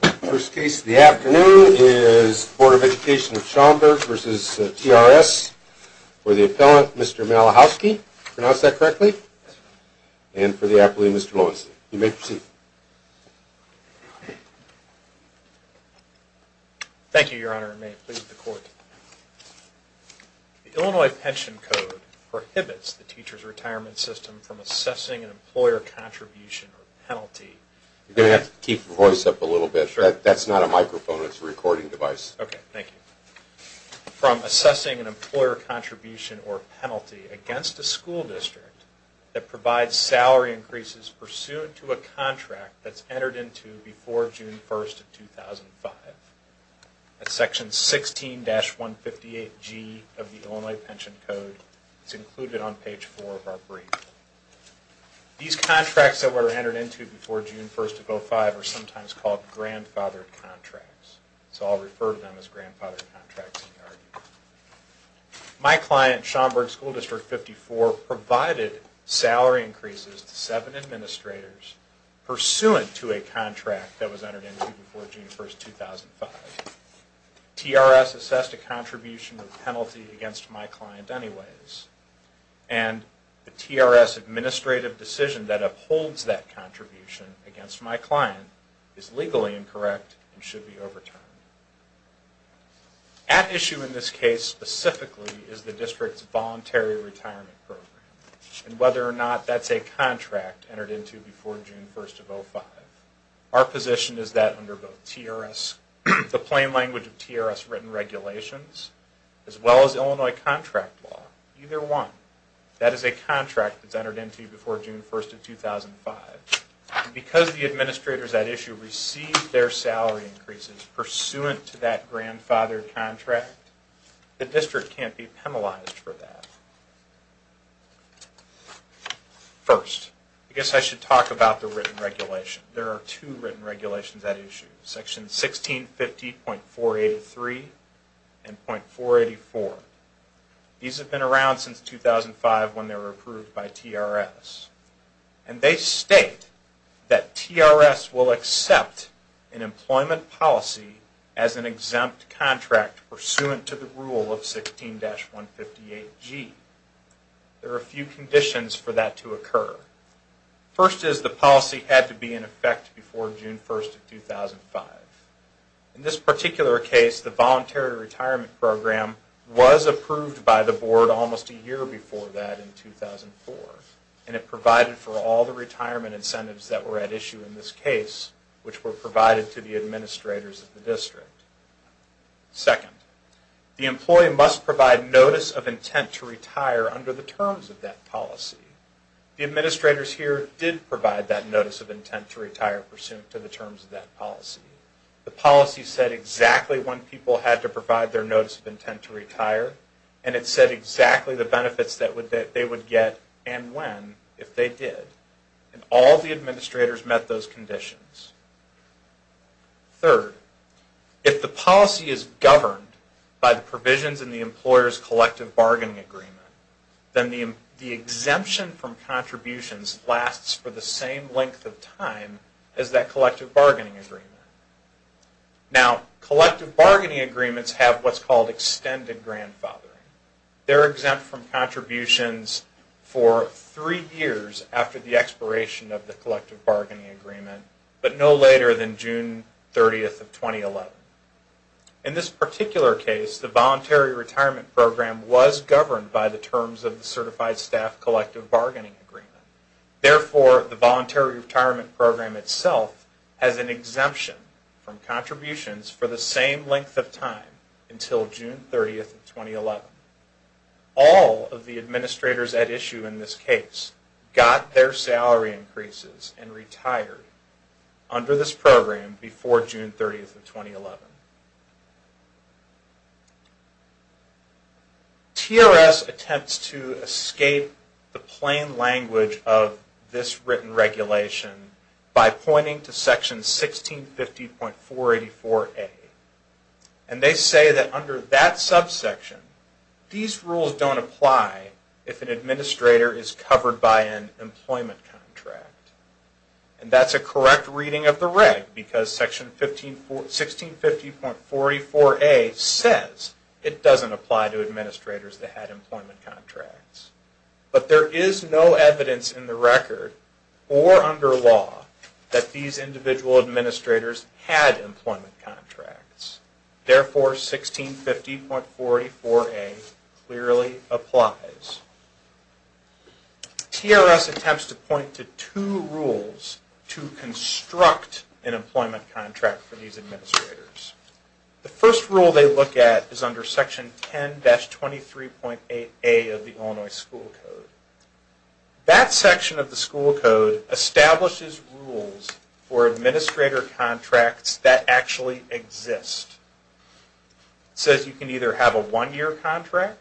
The first case of the afternoon is the Board of Education of Schaumburg v. TRS for the appellant, Mr. Malachowski. Pronounce that correctly. And for the appellee, Mr. Loewenstein. You may proceed. Thank you, Your Honor, and may it please the Court. The Illinois Pension Code prohibits the Teachers' Retirement System from assessing an employer contribution or penalty against a school district that provides salary increases pursuant to a contract that's entered into before June 1, 2005. That's Section 16-158G of the Illinois Pension Code. It's included on page 4 of our brief. These contracts that were entered into before June 1, 2005 are called grandfathered contracts. So I'll refer to them as grandfathered contracts in the argument. My client, Schaumburg School District 54, provided salary increases to seven administrators pursuant to a contract that was entered into before June 1, 2005. TRS assessed a contribution or penalty against my client anyways, and the TRS administrative decision that upholds that contribution against my client is legally incorrect and should be overturned. At issue in this case specifically is the district's voluntary retirement program and whether or not that's a contract entered into before June 1, 2005. Our position is that under both the plain language of TRS written regulations as well as Illinois contract law, either one, that is a contract that's entered into before June 1, 2005. Because the administrators at issue received their salary increases pursuant to that grandfathered contract, the district can't be penalized for that. First, I guess I should talk about the written regulation. There are two written regulations at issue, Section 1650.483 and .484. These have been around since 2005 when they were approved by TRS. And they state that TRS will accept an employment policy as an exempt contract pursuant to the rule of 16-158G. There are a few conditions for that to occur. First is the policy had to be in effect before June 1, 2005. In this particular case, the voluntary retirement program was approved by the board almost a year before that in 2004. And it provided for all the retirement incentives that were at issue in this case, which were provided to the administrators of the district. Second, the employee must provide notice of intent to retire under the terms of that policy. The administrators here did provide that notice of intent to retire pursuant to the terms of that policy. The policy said exactly when people had to provide their notice of intent to retire, and it said exactly the benefits that they would get and when if they did. And all the administrators met those conditions. Third, if the policy is governed by the provisions in the employer's collective bargaining agreement, then the exemption from contributions lasts for the same length of time as that collective bargaining agreement. Now, collective bargaining agreements have what's called extended grandfathering. They're exempt from contributions for three years after the expiration of the collective bargaining agreement, but no later than June 30, 2011. In this particular case, the voluntary retirement program was governed by the terms of the certified staff collective bargaining agreement. Therefore, the voluntary retirement program itself has an All of the administrators at issue in this case got their salary increases and retired under this program before June 30, 2011. TRS attempts to escape the plain language of this written regulation by pointing to section 1650.484A. And they say that under that subsection, these rules don't apply if an administrator is covered by an employment contract. And that's a correct reading of the reg because section 1650.44A says it doesn't apply to administrators that had employment contracts. But there is no evidence in the record or under law that these individual administrators had employment contracts. Therefore, 1650.44A clearly applies. TRS attempts to point to two rules to construct an employment contract for these administrators. The first rule they look at is under section 10-23.8A of the Illinois School Code. That section of the school code establishes rules for administrator contracts that actually exist. It says you can either have a one-year contract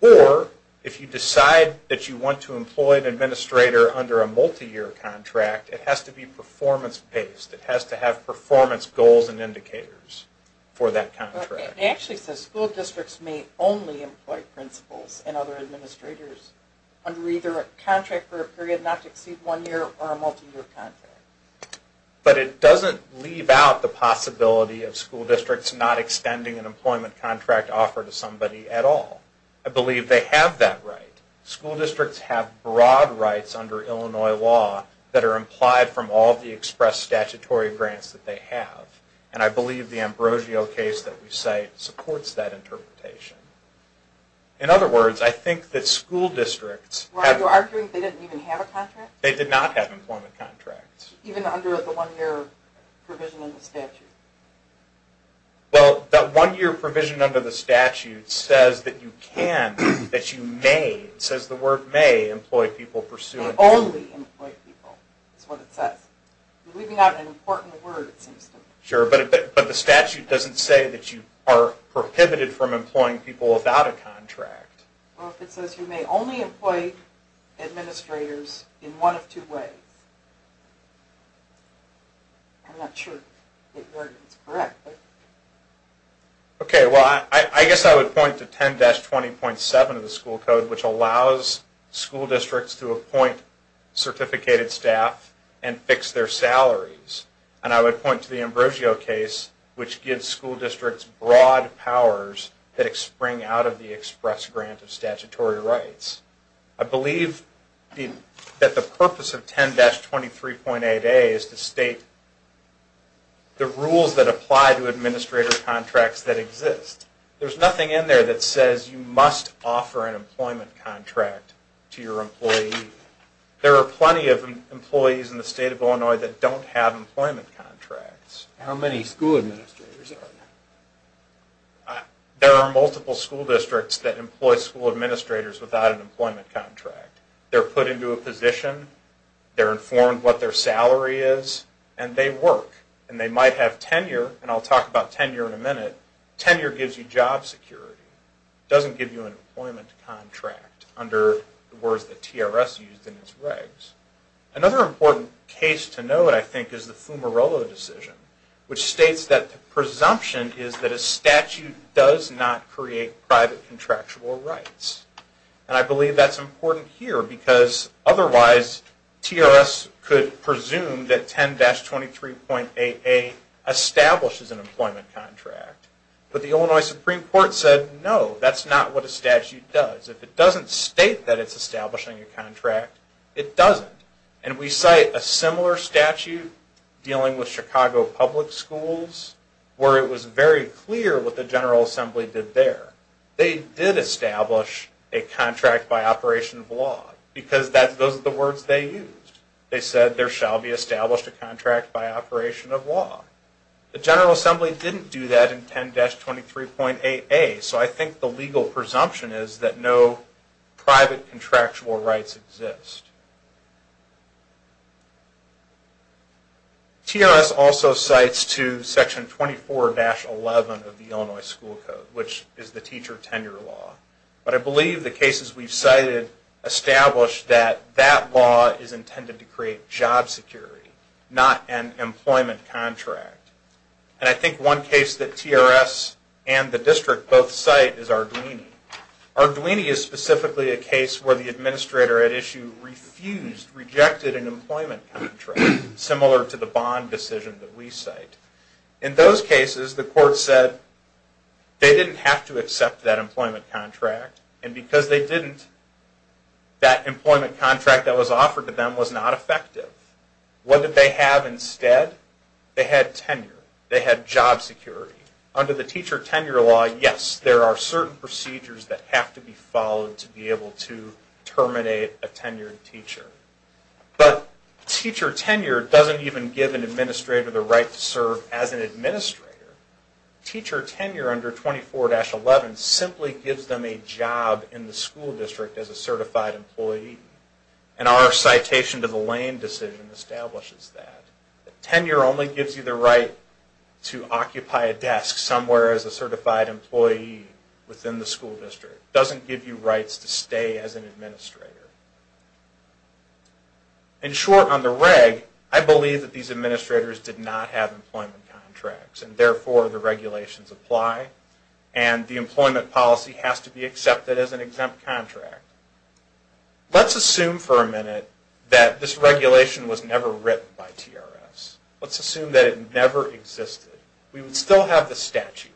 or if you decide that you want to employ an administrator under a multi-year contract, it has to be performance based. It has to have performance goals and indicators for that contract. It actually says school districts may only employ principals and other administrators under either a contract for a period not to exceed one year or a multi-year contract. But it doesn't leave out the possibility of school districts not extending an employment contract offer to somebody at all. I believe they have that right. School districts have broad rights under Illinois law that are implied from all the interpretation. In other words, I think that school districts... Are you arguing they didn't even have a contract? They did not have employment contracts. Even under the one-year provision in the statute? Well, that one-year provision under the statute says that you can, that you may, it says the word may, employ people pursuing... Only employ people is what it says. You're leaving out an important word it seems to me. Sure, but the statute doesn't say that you are prohibited from employing people without a contract. Well, it says you may only employ administrators in one of two ways. I'm not sure if that word is correct. Okay, well, I guess I would point to 10-20.7 of the school code, which allows school districts to appoint certificated staff and fix their salaries. And I would point to the Ambrosio case, which gives school districts broad powers that spring out of the express grant of statutory rights. I believe that the purpose of 10-23.8a is to state the rules that apply to administrator contracts that exist. There's nothing in there that says you must offer an employment contract to your employee. There are plenty of employees in the state of Illinois that don't have employment contracts. How many school administrators are there? There are multiple school districts that employ school administrators without an employment contract. They're put into a position, they're informed what their salary is, and they work. And they might have tenure, and I'll talk about tenure in a minute. Tenure gives you job security. It doesn't give you an employment contract under the words that TRS used in its regs. Another important case to note, I think, is the Fumarolo decision, which states that the presumption is that a statute does not create private contractual rights. And I believe that's important here because otherwise TRS could presume that 10-23.8a establishes an employment contract. But the Illinois Supreme Court said no, that's not what a statute does. If it doesn't state that it's establishing a contract, it doesn't. And we cite a similar statute dealing with Chicago Public Schools where it was very clear what the General Assembly did there. They did establish a contract by operation of law because those are the words they used. They said there shall be established a contract by operation of law. The General Assembly didn't do that in 10-23.8a, so I think the legal presumption is that no private contractual rights exist. TRS also cites to Section 24-11 of the Illinois School Code, which is the teacher tenure law. But I believe the cases we've cited establish that that law is intended to create job security, not an employment contract. And I think one case that TRS and the District both cite is Arduini. Arduini is specifically a case where the administrator at issue refused, rejected an employment contract, similar to the Bond decision that we cite. In those cases, the court said they didn't have to accept that employment contract. And because they didn't, that employment contract that was offered to them was not effective. What did they have instead? They had tenure. They had job security. Under the teacher tenure law, yes, there are certain procedures that have to be followed to be able to terminate a tenured teacher. But teacher tenure doesn't even give an administrator the right to serve as an administrator. Teacher tenure under 24-11 simply gives them a job in the school district as a certified employee. And our citation to the Lane decision establishes that. Tenure only gives you the right to occupy a desk somewhere as a certified employee within the school district. It doesn't give you rights to stay as an administrator. In short, on the reg, I believe that these administrators did not have employment contracts. And therefore, the regulations apply. And the employment policy has to be accepted as an exempt contract. Let's assume for a minute that this regulation was never written by TRS. Let's assume that it never existed. We would still have the statute.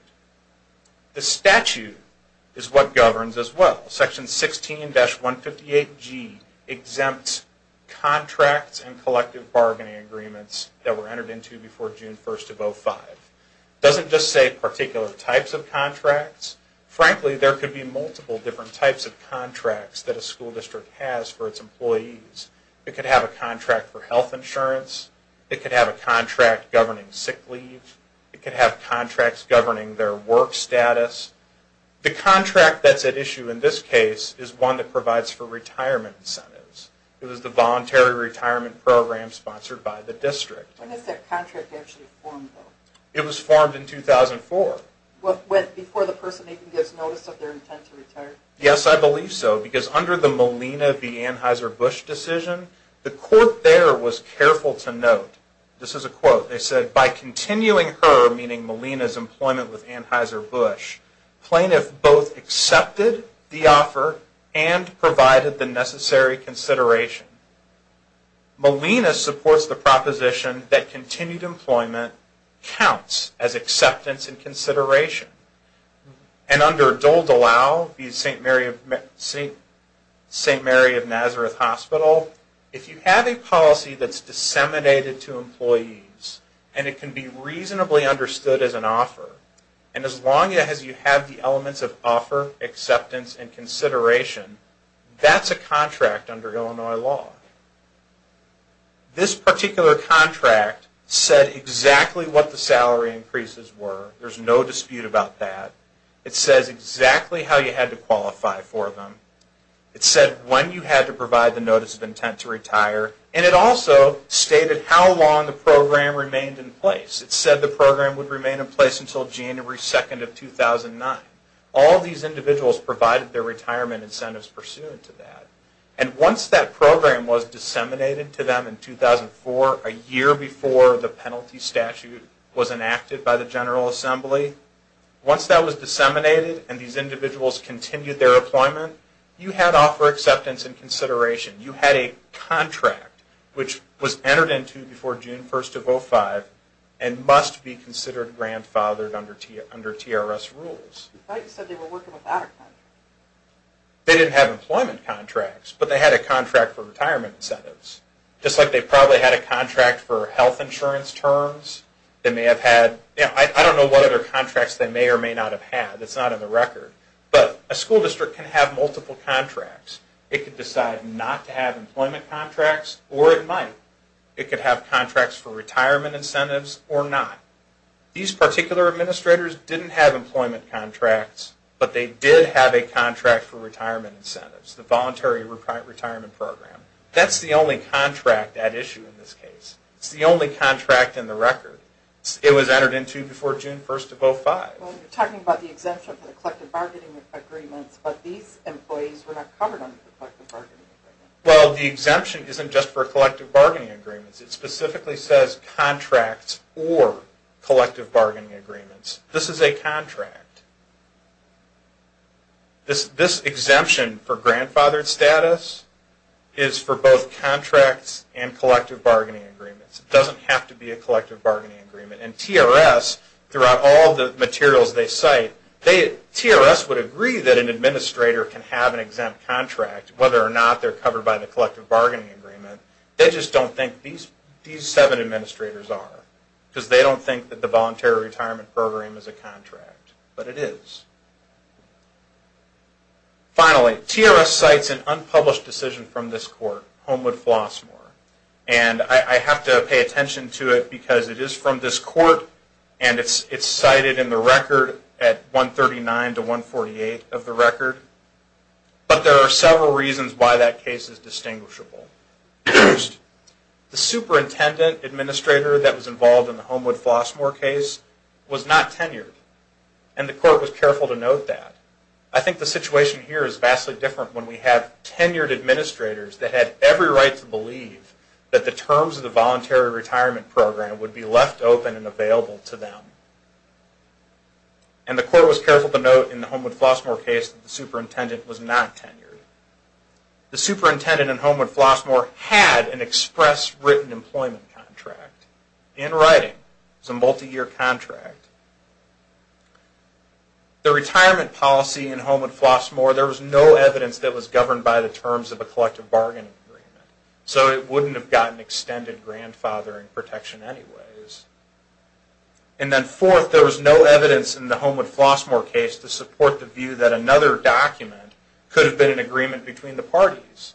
The statute is what governs as well. Section 16-158G exempts contracts and collective bargaining agreements that were entered into before June 1st of 2005. It doesn't just say particular types of contracts. Frankly, there could be multiple different types of contracts that a school district has for its employees. It could have a contract for health insurance. It could have a contract governing sick leave. It could have contracts governing their work status. The contract that's at issue in this case is one that provides for retirement incentives. It was the Voluntary Retirement Program sponsored by the district. When is that contract actually formed, though? It was formed in 2004. Before the person even gets notice of their intent to retire? Yes, I believe so. Because under the Molina v. Anheuser-Busch decision, the court there was careful to note, this is a quote, they said, by continuing her, meaning Molina's employment with Anheuser-Busch, plaintiff both accepted the offer and provided the necessary consideration. Molina supports the proposition that continued employment counts as acceptance and consideration. And under Dole DeLisle v. St. Mary of Nazareth Hospital, if you have a policy that's disseminated to employees and it can be reasonably understood as an offer, and as long as you have the elements of offer, acceptance, and consideration, that's a contract under Illinois law. This particular contract said exactly what the salary increases were. There's no dispute about that. It says exactly how you had to qualify for them. It said when you had to provide the notice of intent to retire. And it also stated how long the program remained in place. It said the program would remain in place until January 2nd of 2009. All these individuals provided their retirement incentives pursuant to that. And once that program was disseminated to them in 2004, a year before the penalty statute was enacted by the General Assembly, once that was disseminated and these individuals continued their employment, you had offer acceptance and consideration. You had a contract which was entered into before June 1st of 2005 and must be considered grandfathered under TRS rules. They didn't have employment contracts, but they had a contract for retirement incentives. Just like they probably had a contract for health insurance terms, they may have had, I don't know what other contracts they may or may not have had. It's not in the record. But a school district can have multiple contracts. It could decide not to have employment contracts or it might. It could have contracts for retirement incentives or not. These particular administrators didn't have employment contracts, but they did have a contract for retirement incentives, the Voluntary Retirement Program. That's the only contract at issue in this case. It's the only contract in the record. It was entered into before June 1st of 2005. You're talking about the exemption for the collective bargaining agreements, but these employees were not covered under the collective bargaining agreements. Well, the exemption isn't just for collective bargaining agreements. It specifically says contracts or collective bargaining agreements. This is a contract. This exemption for grandfathered status is for both contracts and collective bargaining agreements. It doesn't have to be a collective bargaining agreement. And TRS, throughout all the materials they cite, TRS would agree that an administrator can have an exempt contract, whether or not they're covered by the collective bargaining agreement. They just don't think these seven administrators are because they don't think that the Voluntary Retirement Program is a contract. But it is. Finally, TRS cites an unpublished decision from this court, Homewood-Flossmoor. And I have to pay attention to it because it is from this court and it's cited in the record at 139 to 148 of the record. But there are several reasons why that case is distinguishable. The superintendent administrator that was involved in the Homewood-Flossmoor case was not tenured. And the court was careful to note that. I think the situation here is vastly different when we have tenured administrators that had every right to believe that the terms of the Voluntary Retirement Program would be left open and available to them. And the court was careful to note in the Homewood-Flossmoor case that the superintendent was not tenured. The superintendent in Homewood-Flossmoor had an express written employment contract in writing. It was a multi-year contract. The retirement policy in Homewood-Flossmoor, there was no evidence that was governed by the terms of a collective bargaining agreement. So it wouldn't have gotten extended grandfathering protection anyways. And then fourth, there was no evidence in the Homewood-Flossmoor case to support the view that another document could have been an agreement between the parties.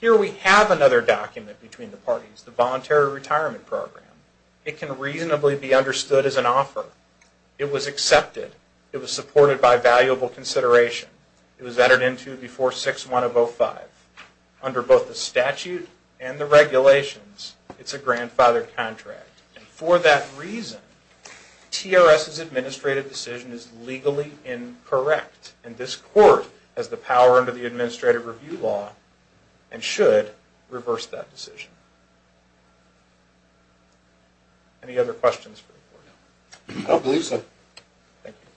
Here we have another document between the parties, the Voluntary Retirement Program. It can reasonably be understood as an offer. It was accepted. It was supported by valuable consideration. It was entered into before 6-1 of 05. Under both the statute and the regulations, it's a grandfathered contract. And for that reason, TRS's administrative decision is legally incorrect. And this court has the power under the administrative review law and should reverse that decision. Any other questions? I don't believe so. Thank you.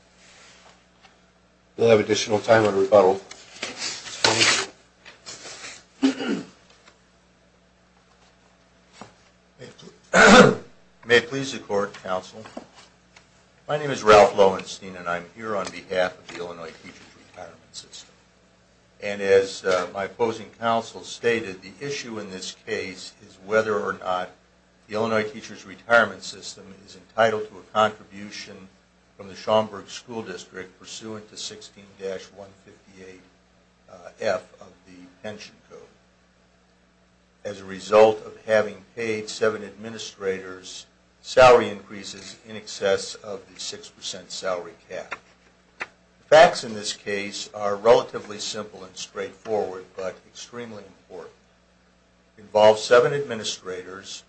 We'll have additional time under rebuttal. May it please the Court, Counsel. My name is Ralph Lowenstein, and I'm here on behalf of the Illinois Teachers Retirement System. And as my opposing counsel stated, the issue in this case is whether or not the Illinois Teachers Retirement System is entitled to a contribution from the Schaumburg School District pursuant to 16-158F of the pension code. As a result of having paid seven administrators salary increases in excess of the 6% salary cap. The facts in this case are relatively simple and straightforward, but extremely important. It involves seven administrators,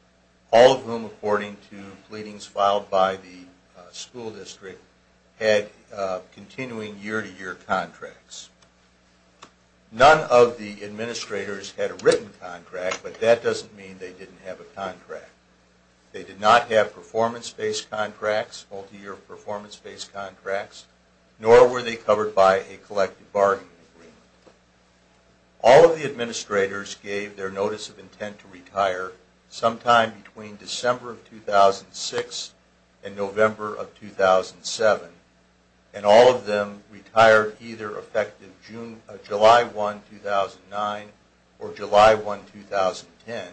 all of whom, according to pleadings filed by the school district, had continuing year-to-year contracts. None of the administrators had a written contract, but that doesn't mean they didn't have a contract. They did not have performance-based contracts, multi-year performance-based contracts, nor were they covered by a collective bargaining agreement. All of the administrators gave their notice of intent to retire sometime between December of 2006 and November of 2007. And all of them retired either effective July 1, 2009 or July 1, 2010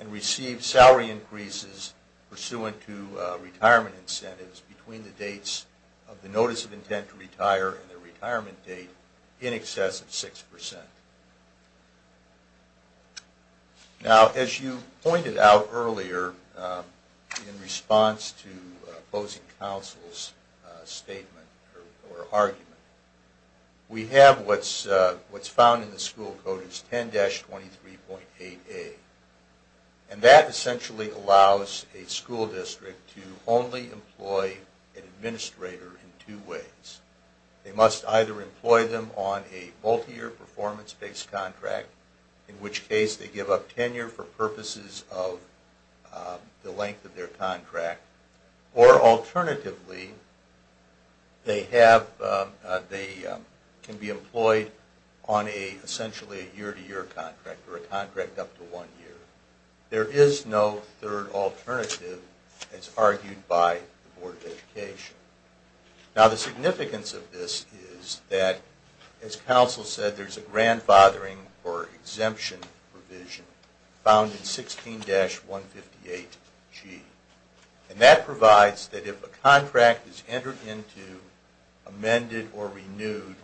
and received salary increases pursuant to retirement incentives between the dates of the notice of intent to retire and the retirement date in excess of 6%. Now, as you pointed out earlier, in response to opposing counsel's statement or argument, we have what's found in the school code as 10-23.8A. And that essentially allows a school district to only employ an administrator in two ways. They must either employ them on a multi-year performance-based contract, in which case they give up tenure for purposes of the length of their contract, or alternatively, they can be employed on essentially a year-to-year contract or a contract up to one year. There is no third alternative, as argued by the Board of Education. Now, the significance of this is that, as counsel said, there's a grandfathering or exemption provision found in 16-158G. And that provides that if a contract is entered into, amended or renewed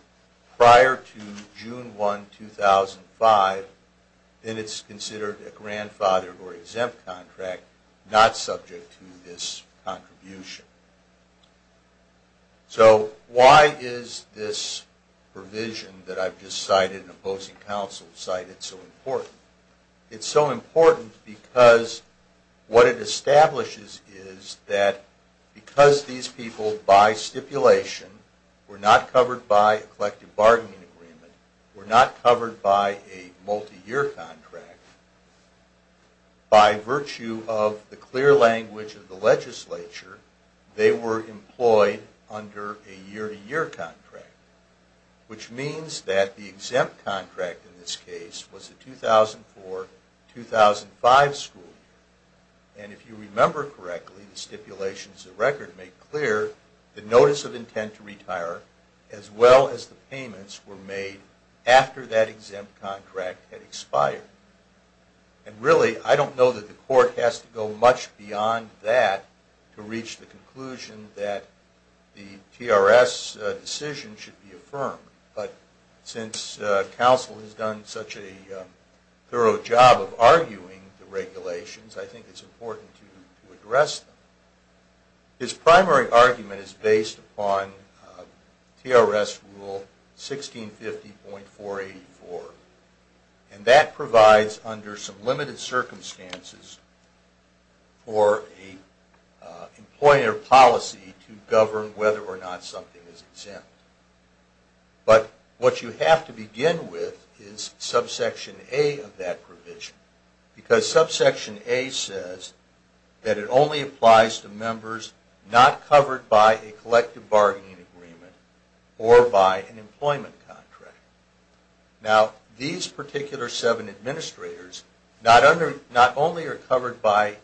prior to June 1, 2005, then it's considered a grandfathered or exempt contract, not subject to this contribution. So why is this provision that I've just cited in opposing counsel cited so important? It's so important because what it establishes is that because these people, by stipulation, were not covered by a collective bargaining agreement, were not covered by a multi-year contract, by virtue of the clear language of the legislature, they were employed under a year-to-year contract, which means that the exempt contract in this case was a 2004-2005 school year. And if you remember correctly, the stipulations of record make clear the notice of intent to retire, as well as the payments were made after that exempt contract had expired. And really, I don't know that the court has to go much beyond that to reach the conclusion that the TRS decision should be affirmed. But since counsel has done such a thorough job of arguing the regulations, I think it's important to address them. His primary argument is based upon TRS Rule 1650.484, and that provides, under some limited circumstances, for an employer policy to govern whether or not something is exempt. But what you have to begin with is subsection A of that provision, because subsection A says that it only applies to members not covered by a collective bargaining agreement or by an employment contract. Now, these particular seven administrators not only are covered by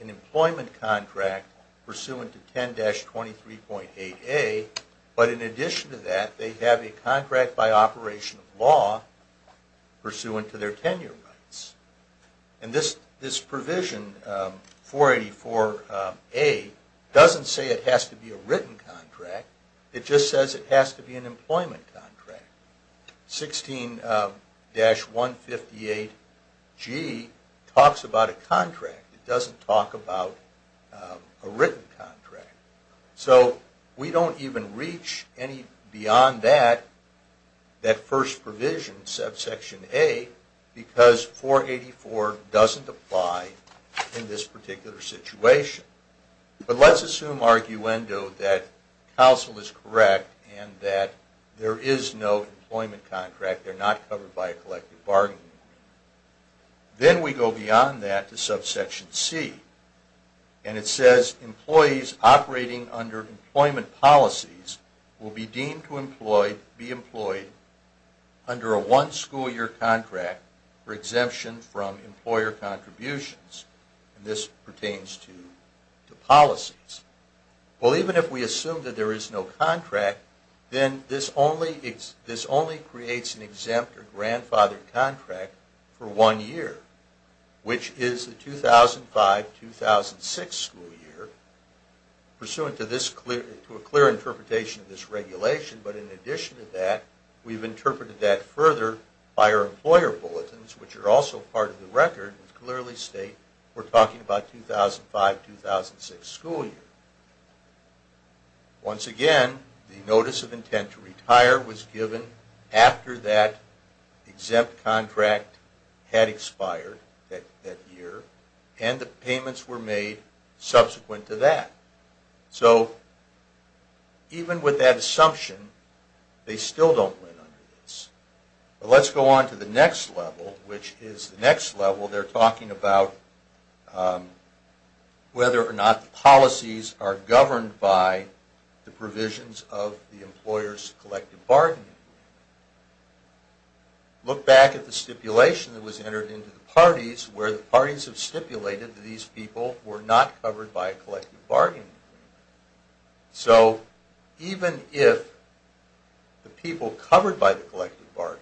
an employment contract pursuant to 10-23.8A, but in addition to that, they have a contract by operation of law pursuant to their tenure rights. And this provision, 484A, doesn't say it has to be a written contract. It just says it has to be an employment contract. 16-158G talks about a contract. It doesn't talk about a written contract. So we don't even reach beyond that first provision, subsection A, because 484 doesn't apply in this particular situation. But let's assume, arguendo, that counsel is correct and that there is no employment contract, they're not covered by a collective bargaining agreement. Then we go beyond that to subsection C, and it says employees operating under employment policies will be deemed to be employed under a one-school-year contract for exemption from employer contributions. And this pertains to policies. Well, even if we assume that there is no contract, then this only creates an exempt or grandfathered contract for one year, which is the 2005-2006 school year, pursuant to a clear interpretation of this regulation. But in addition to that, we've interpreted that further by our employer bulletins, which are also part of the record and clearly state we're talking about 2005-2006 school year. Once again, the notice of intent to retire was given after that exempt contract had expired that year, and the payments were made subsequent to that. So even with that assumption, they still don't win under this. But let's go on to the next level, which is the next level. They're talking about whether or not policies are governed by the provisions of the employer's collective bargaining agreement. Look back at the stipulation that was entered into the parties where the parties have stipulated that these people were not covered by a collective bargaining agreement. So even if the people covered by the collective bargaining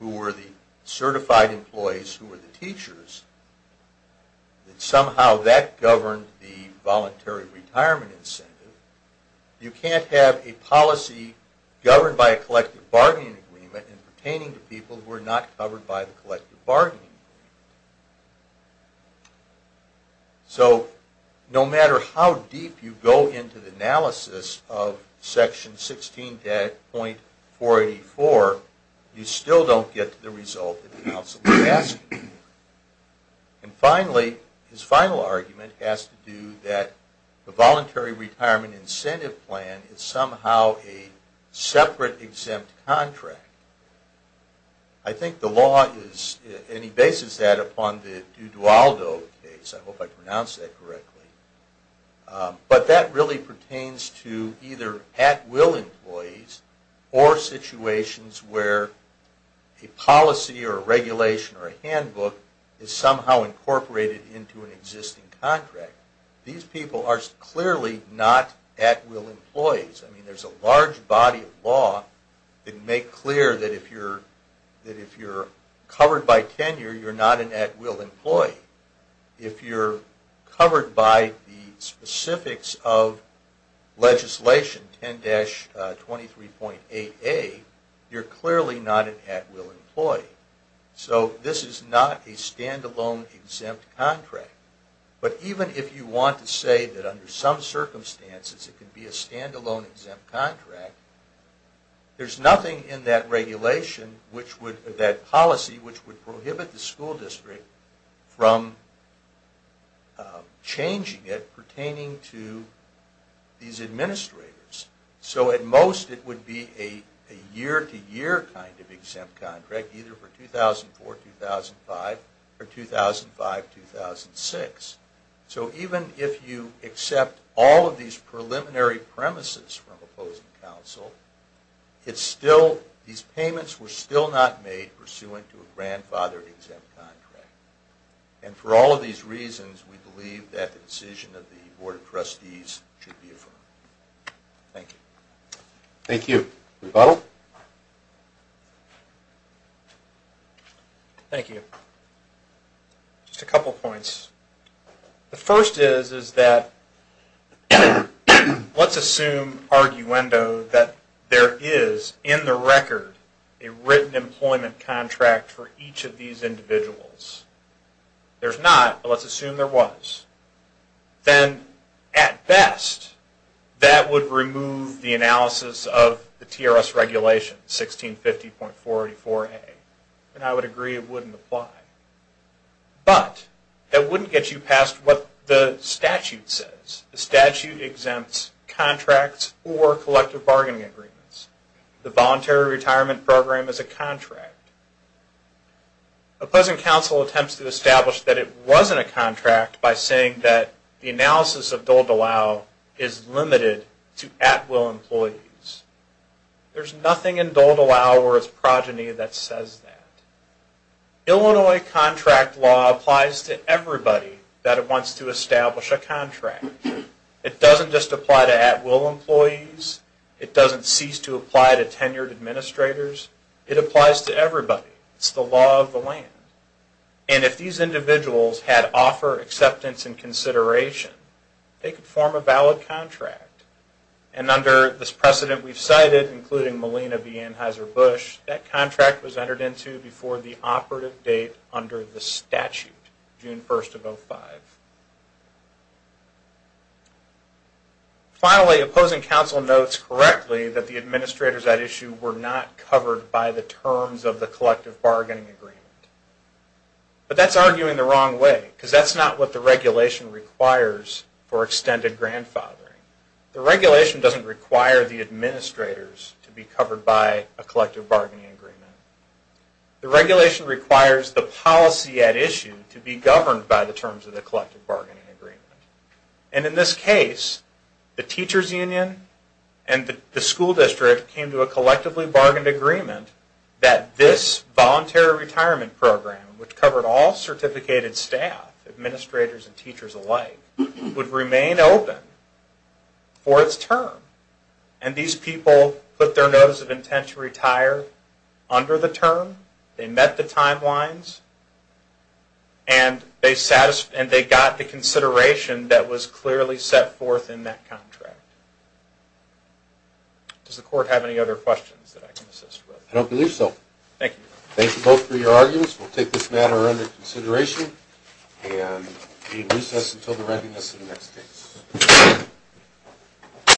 agreement, who were the certified employees who were the teachers, that somehow that governed the voluntary retirement incentive, you can't have a policy governed by a collective bargaining agreement pertaining to people who were not covered by the collective bargaining agreement. So no matter how deep you go into the analysis of Section 16.484, you still don't get to the result that the Council is asking for. And finally, his final argument has to do that the voluntary retirement incentive plan is somehow a separate exempt contract. I think the law is, and he bases that upon the Duvaldo case, I hope I pronounced that correctly, but that really pertains to either at-will employees or situations where a policy or a regulation or a handbook is somehow incorporated into an existing contract. These people are clearly not at-will employees. I mean, there's a large body of law that make clear that if you're covered by tenure, you're not an at-will employee. If you're covered by the specifics of legislation 10-23.88, you're clearly not an at-will employee. So this is not a stand-alone exempt contract. But even if you want to say that under some circumstances it could be a stand-alone exempt contract, there's nothing in that regulation, that policy, which would prohibit the school district from changing it pertaining to these administrators. So at most it would be a year-to-year kind of exempt contract, either for 2004-2005 or 2005-2006. So even if you accept all of these preliminary premises from opposing counsel, these payments were still not made pursuant to a grandfathered exempt contract. And for all of these reasons, we believe that the decision of the Board of Trustees should be affirmed. Thank you. Thank you. Rebuttal? Thank you. Just a couple points. The first is that let's assume, arguendo, that there is, in the record, a written employment contract for each of these individuals. There's not, but let's assume there was. Then, at best, that would remove the analysis of the TRS regulation, 1650.484A. And I would agree it wouldn't apply. But that wouldn't get you past what the statute says. The statute exempts contracts or collective bargaining agreements. The Voluntary Retirement Program is a contract. Opposing counsel attempts to establish that it wasn't a contract by saying that the analysis of Dole-DeLisle is limited to at-will employees. There's nothing in Dole-DeLisle or its progeny that says that. Illinois contract law applies to everybody that wants to establish a contract. It doesn't just apply to at-will employees. It doesn't cease to apply to tenured administrators. It applies to everybody. It's the law of the land. And if these individuals had offer, acceptance, and consideration, they could form a valid contract. And under this precedent we've cited, including Malina V. Anheuser-Busch, that contract was entered into before the operative date under the statute, June 1st of 2005. Finally, opposing counsel notes correctly that the administrators at issue were not covered by the terms of the collective bargaining agreement. But that's arguing the wrong way because that's not what the regulation requires for extended grandfathering. The regulation doesn't require the administrators to be covered by a collective bargaining agreement. The regulation requires the policy at issue to be governed by the terms of the collective bargaining agreement. And in this case, the teachers union and the school district came to a collectively bargained agreement that this voluntary retirement program, which covered all certificated staff, administrators and teachers alike, would remain open for its term. And these people put their notice of intent to retire under the term. They met the timelines. And they got the consideration that was clearly set forth in that contract. Does the court have any other questions that I can assist with? I don't believe so. Thank you. Thank you both for your arguments. We'll take this matter under consideration. Thank you. And we recess until the readiness of the next case.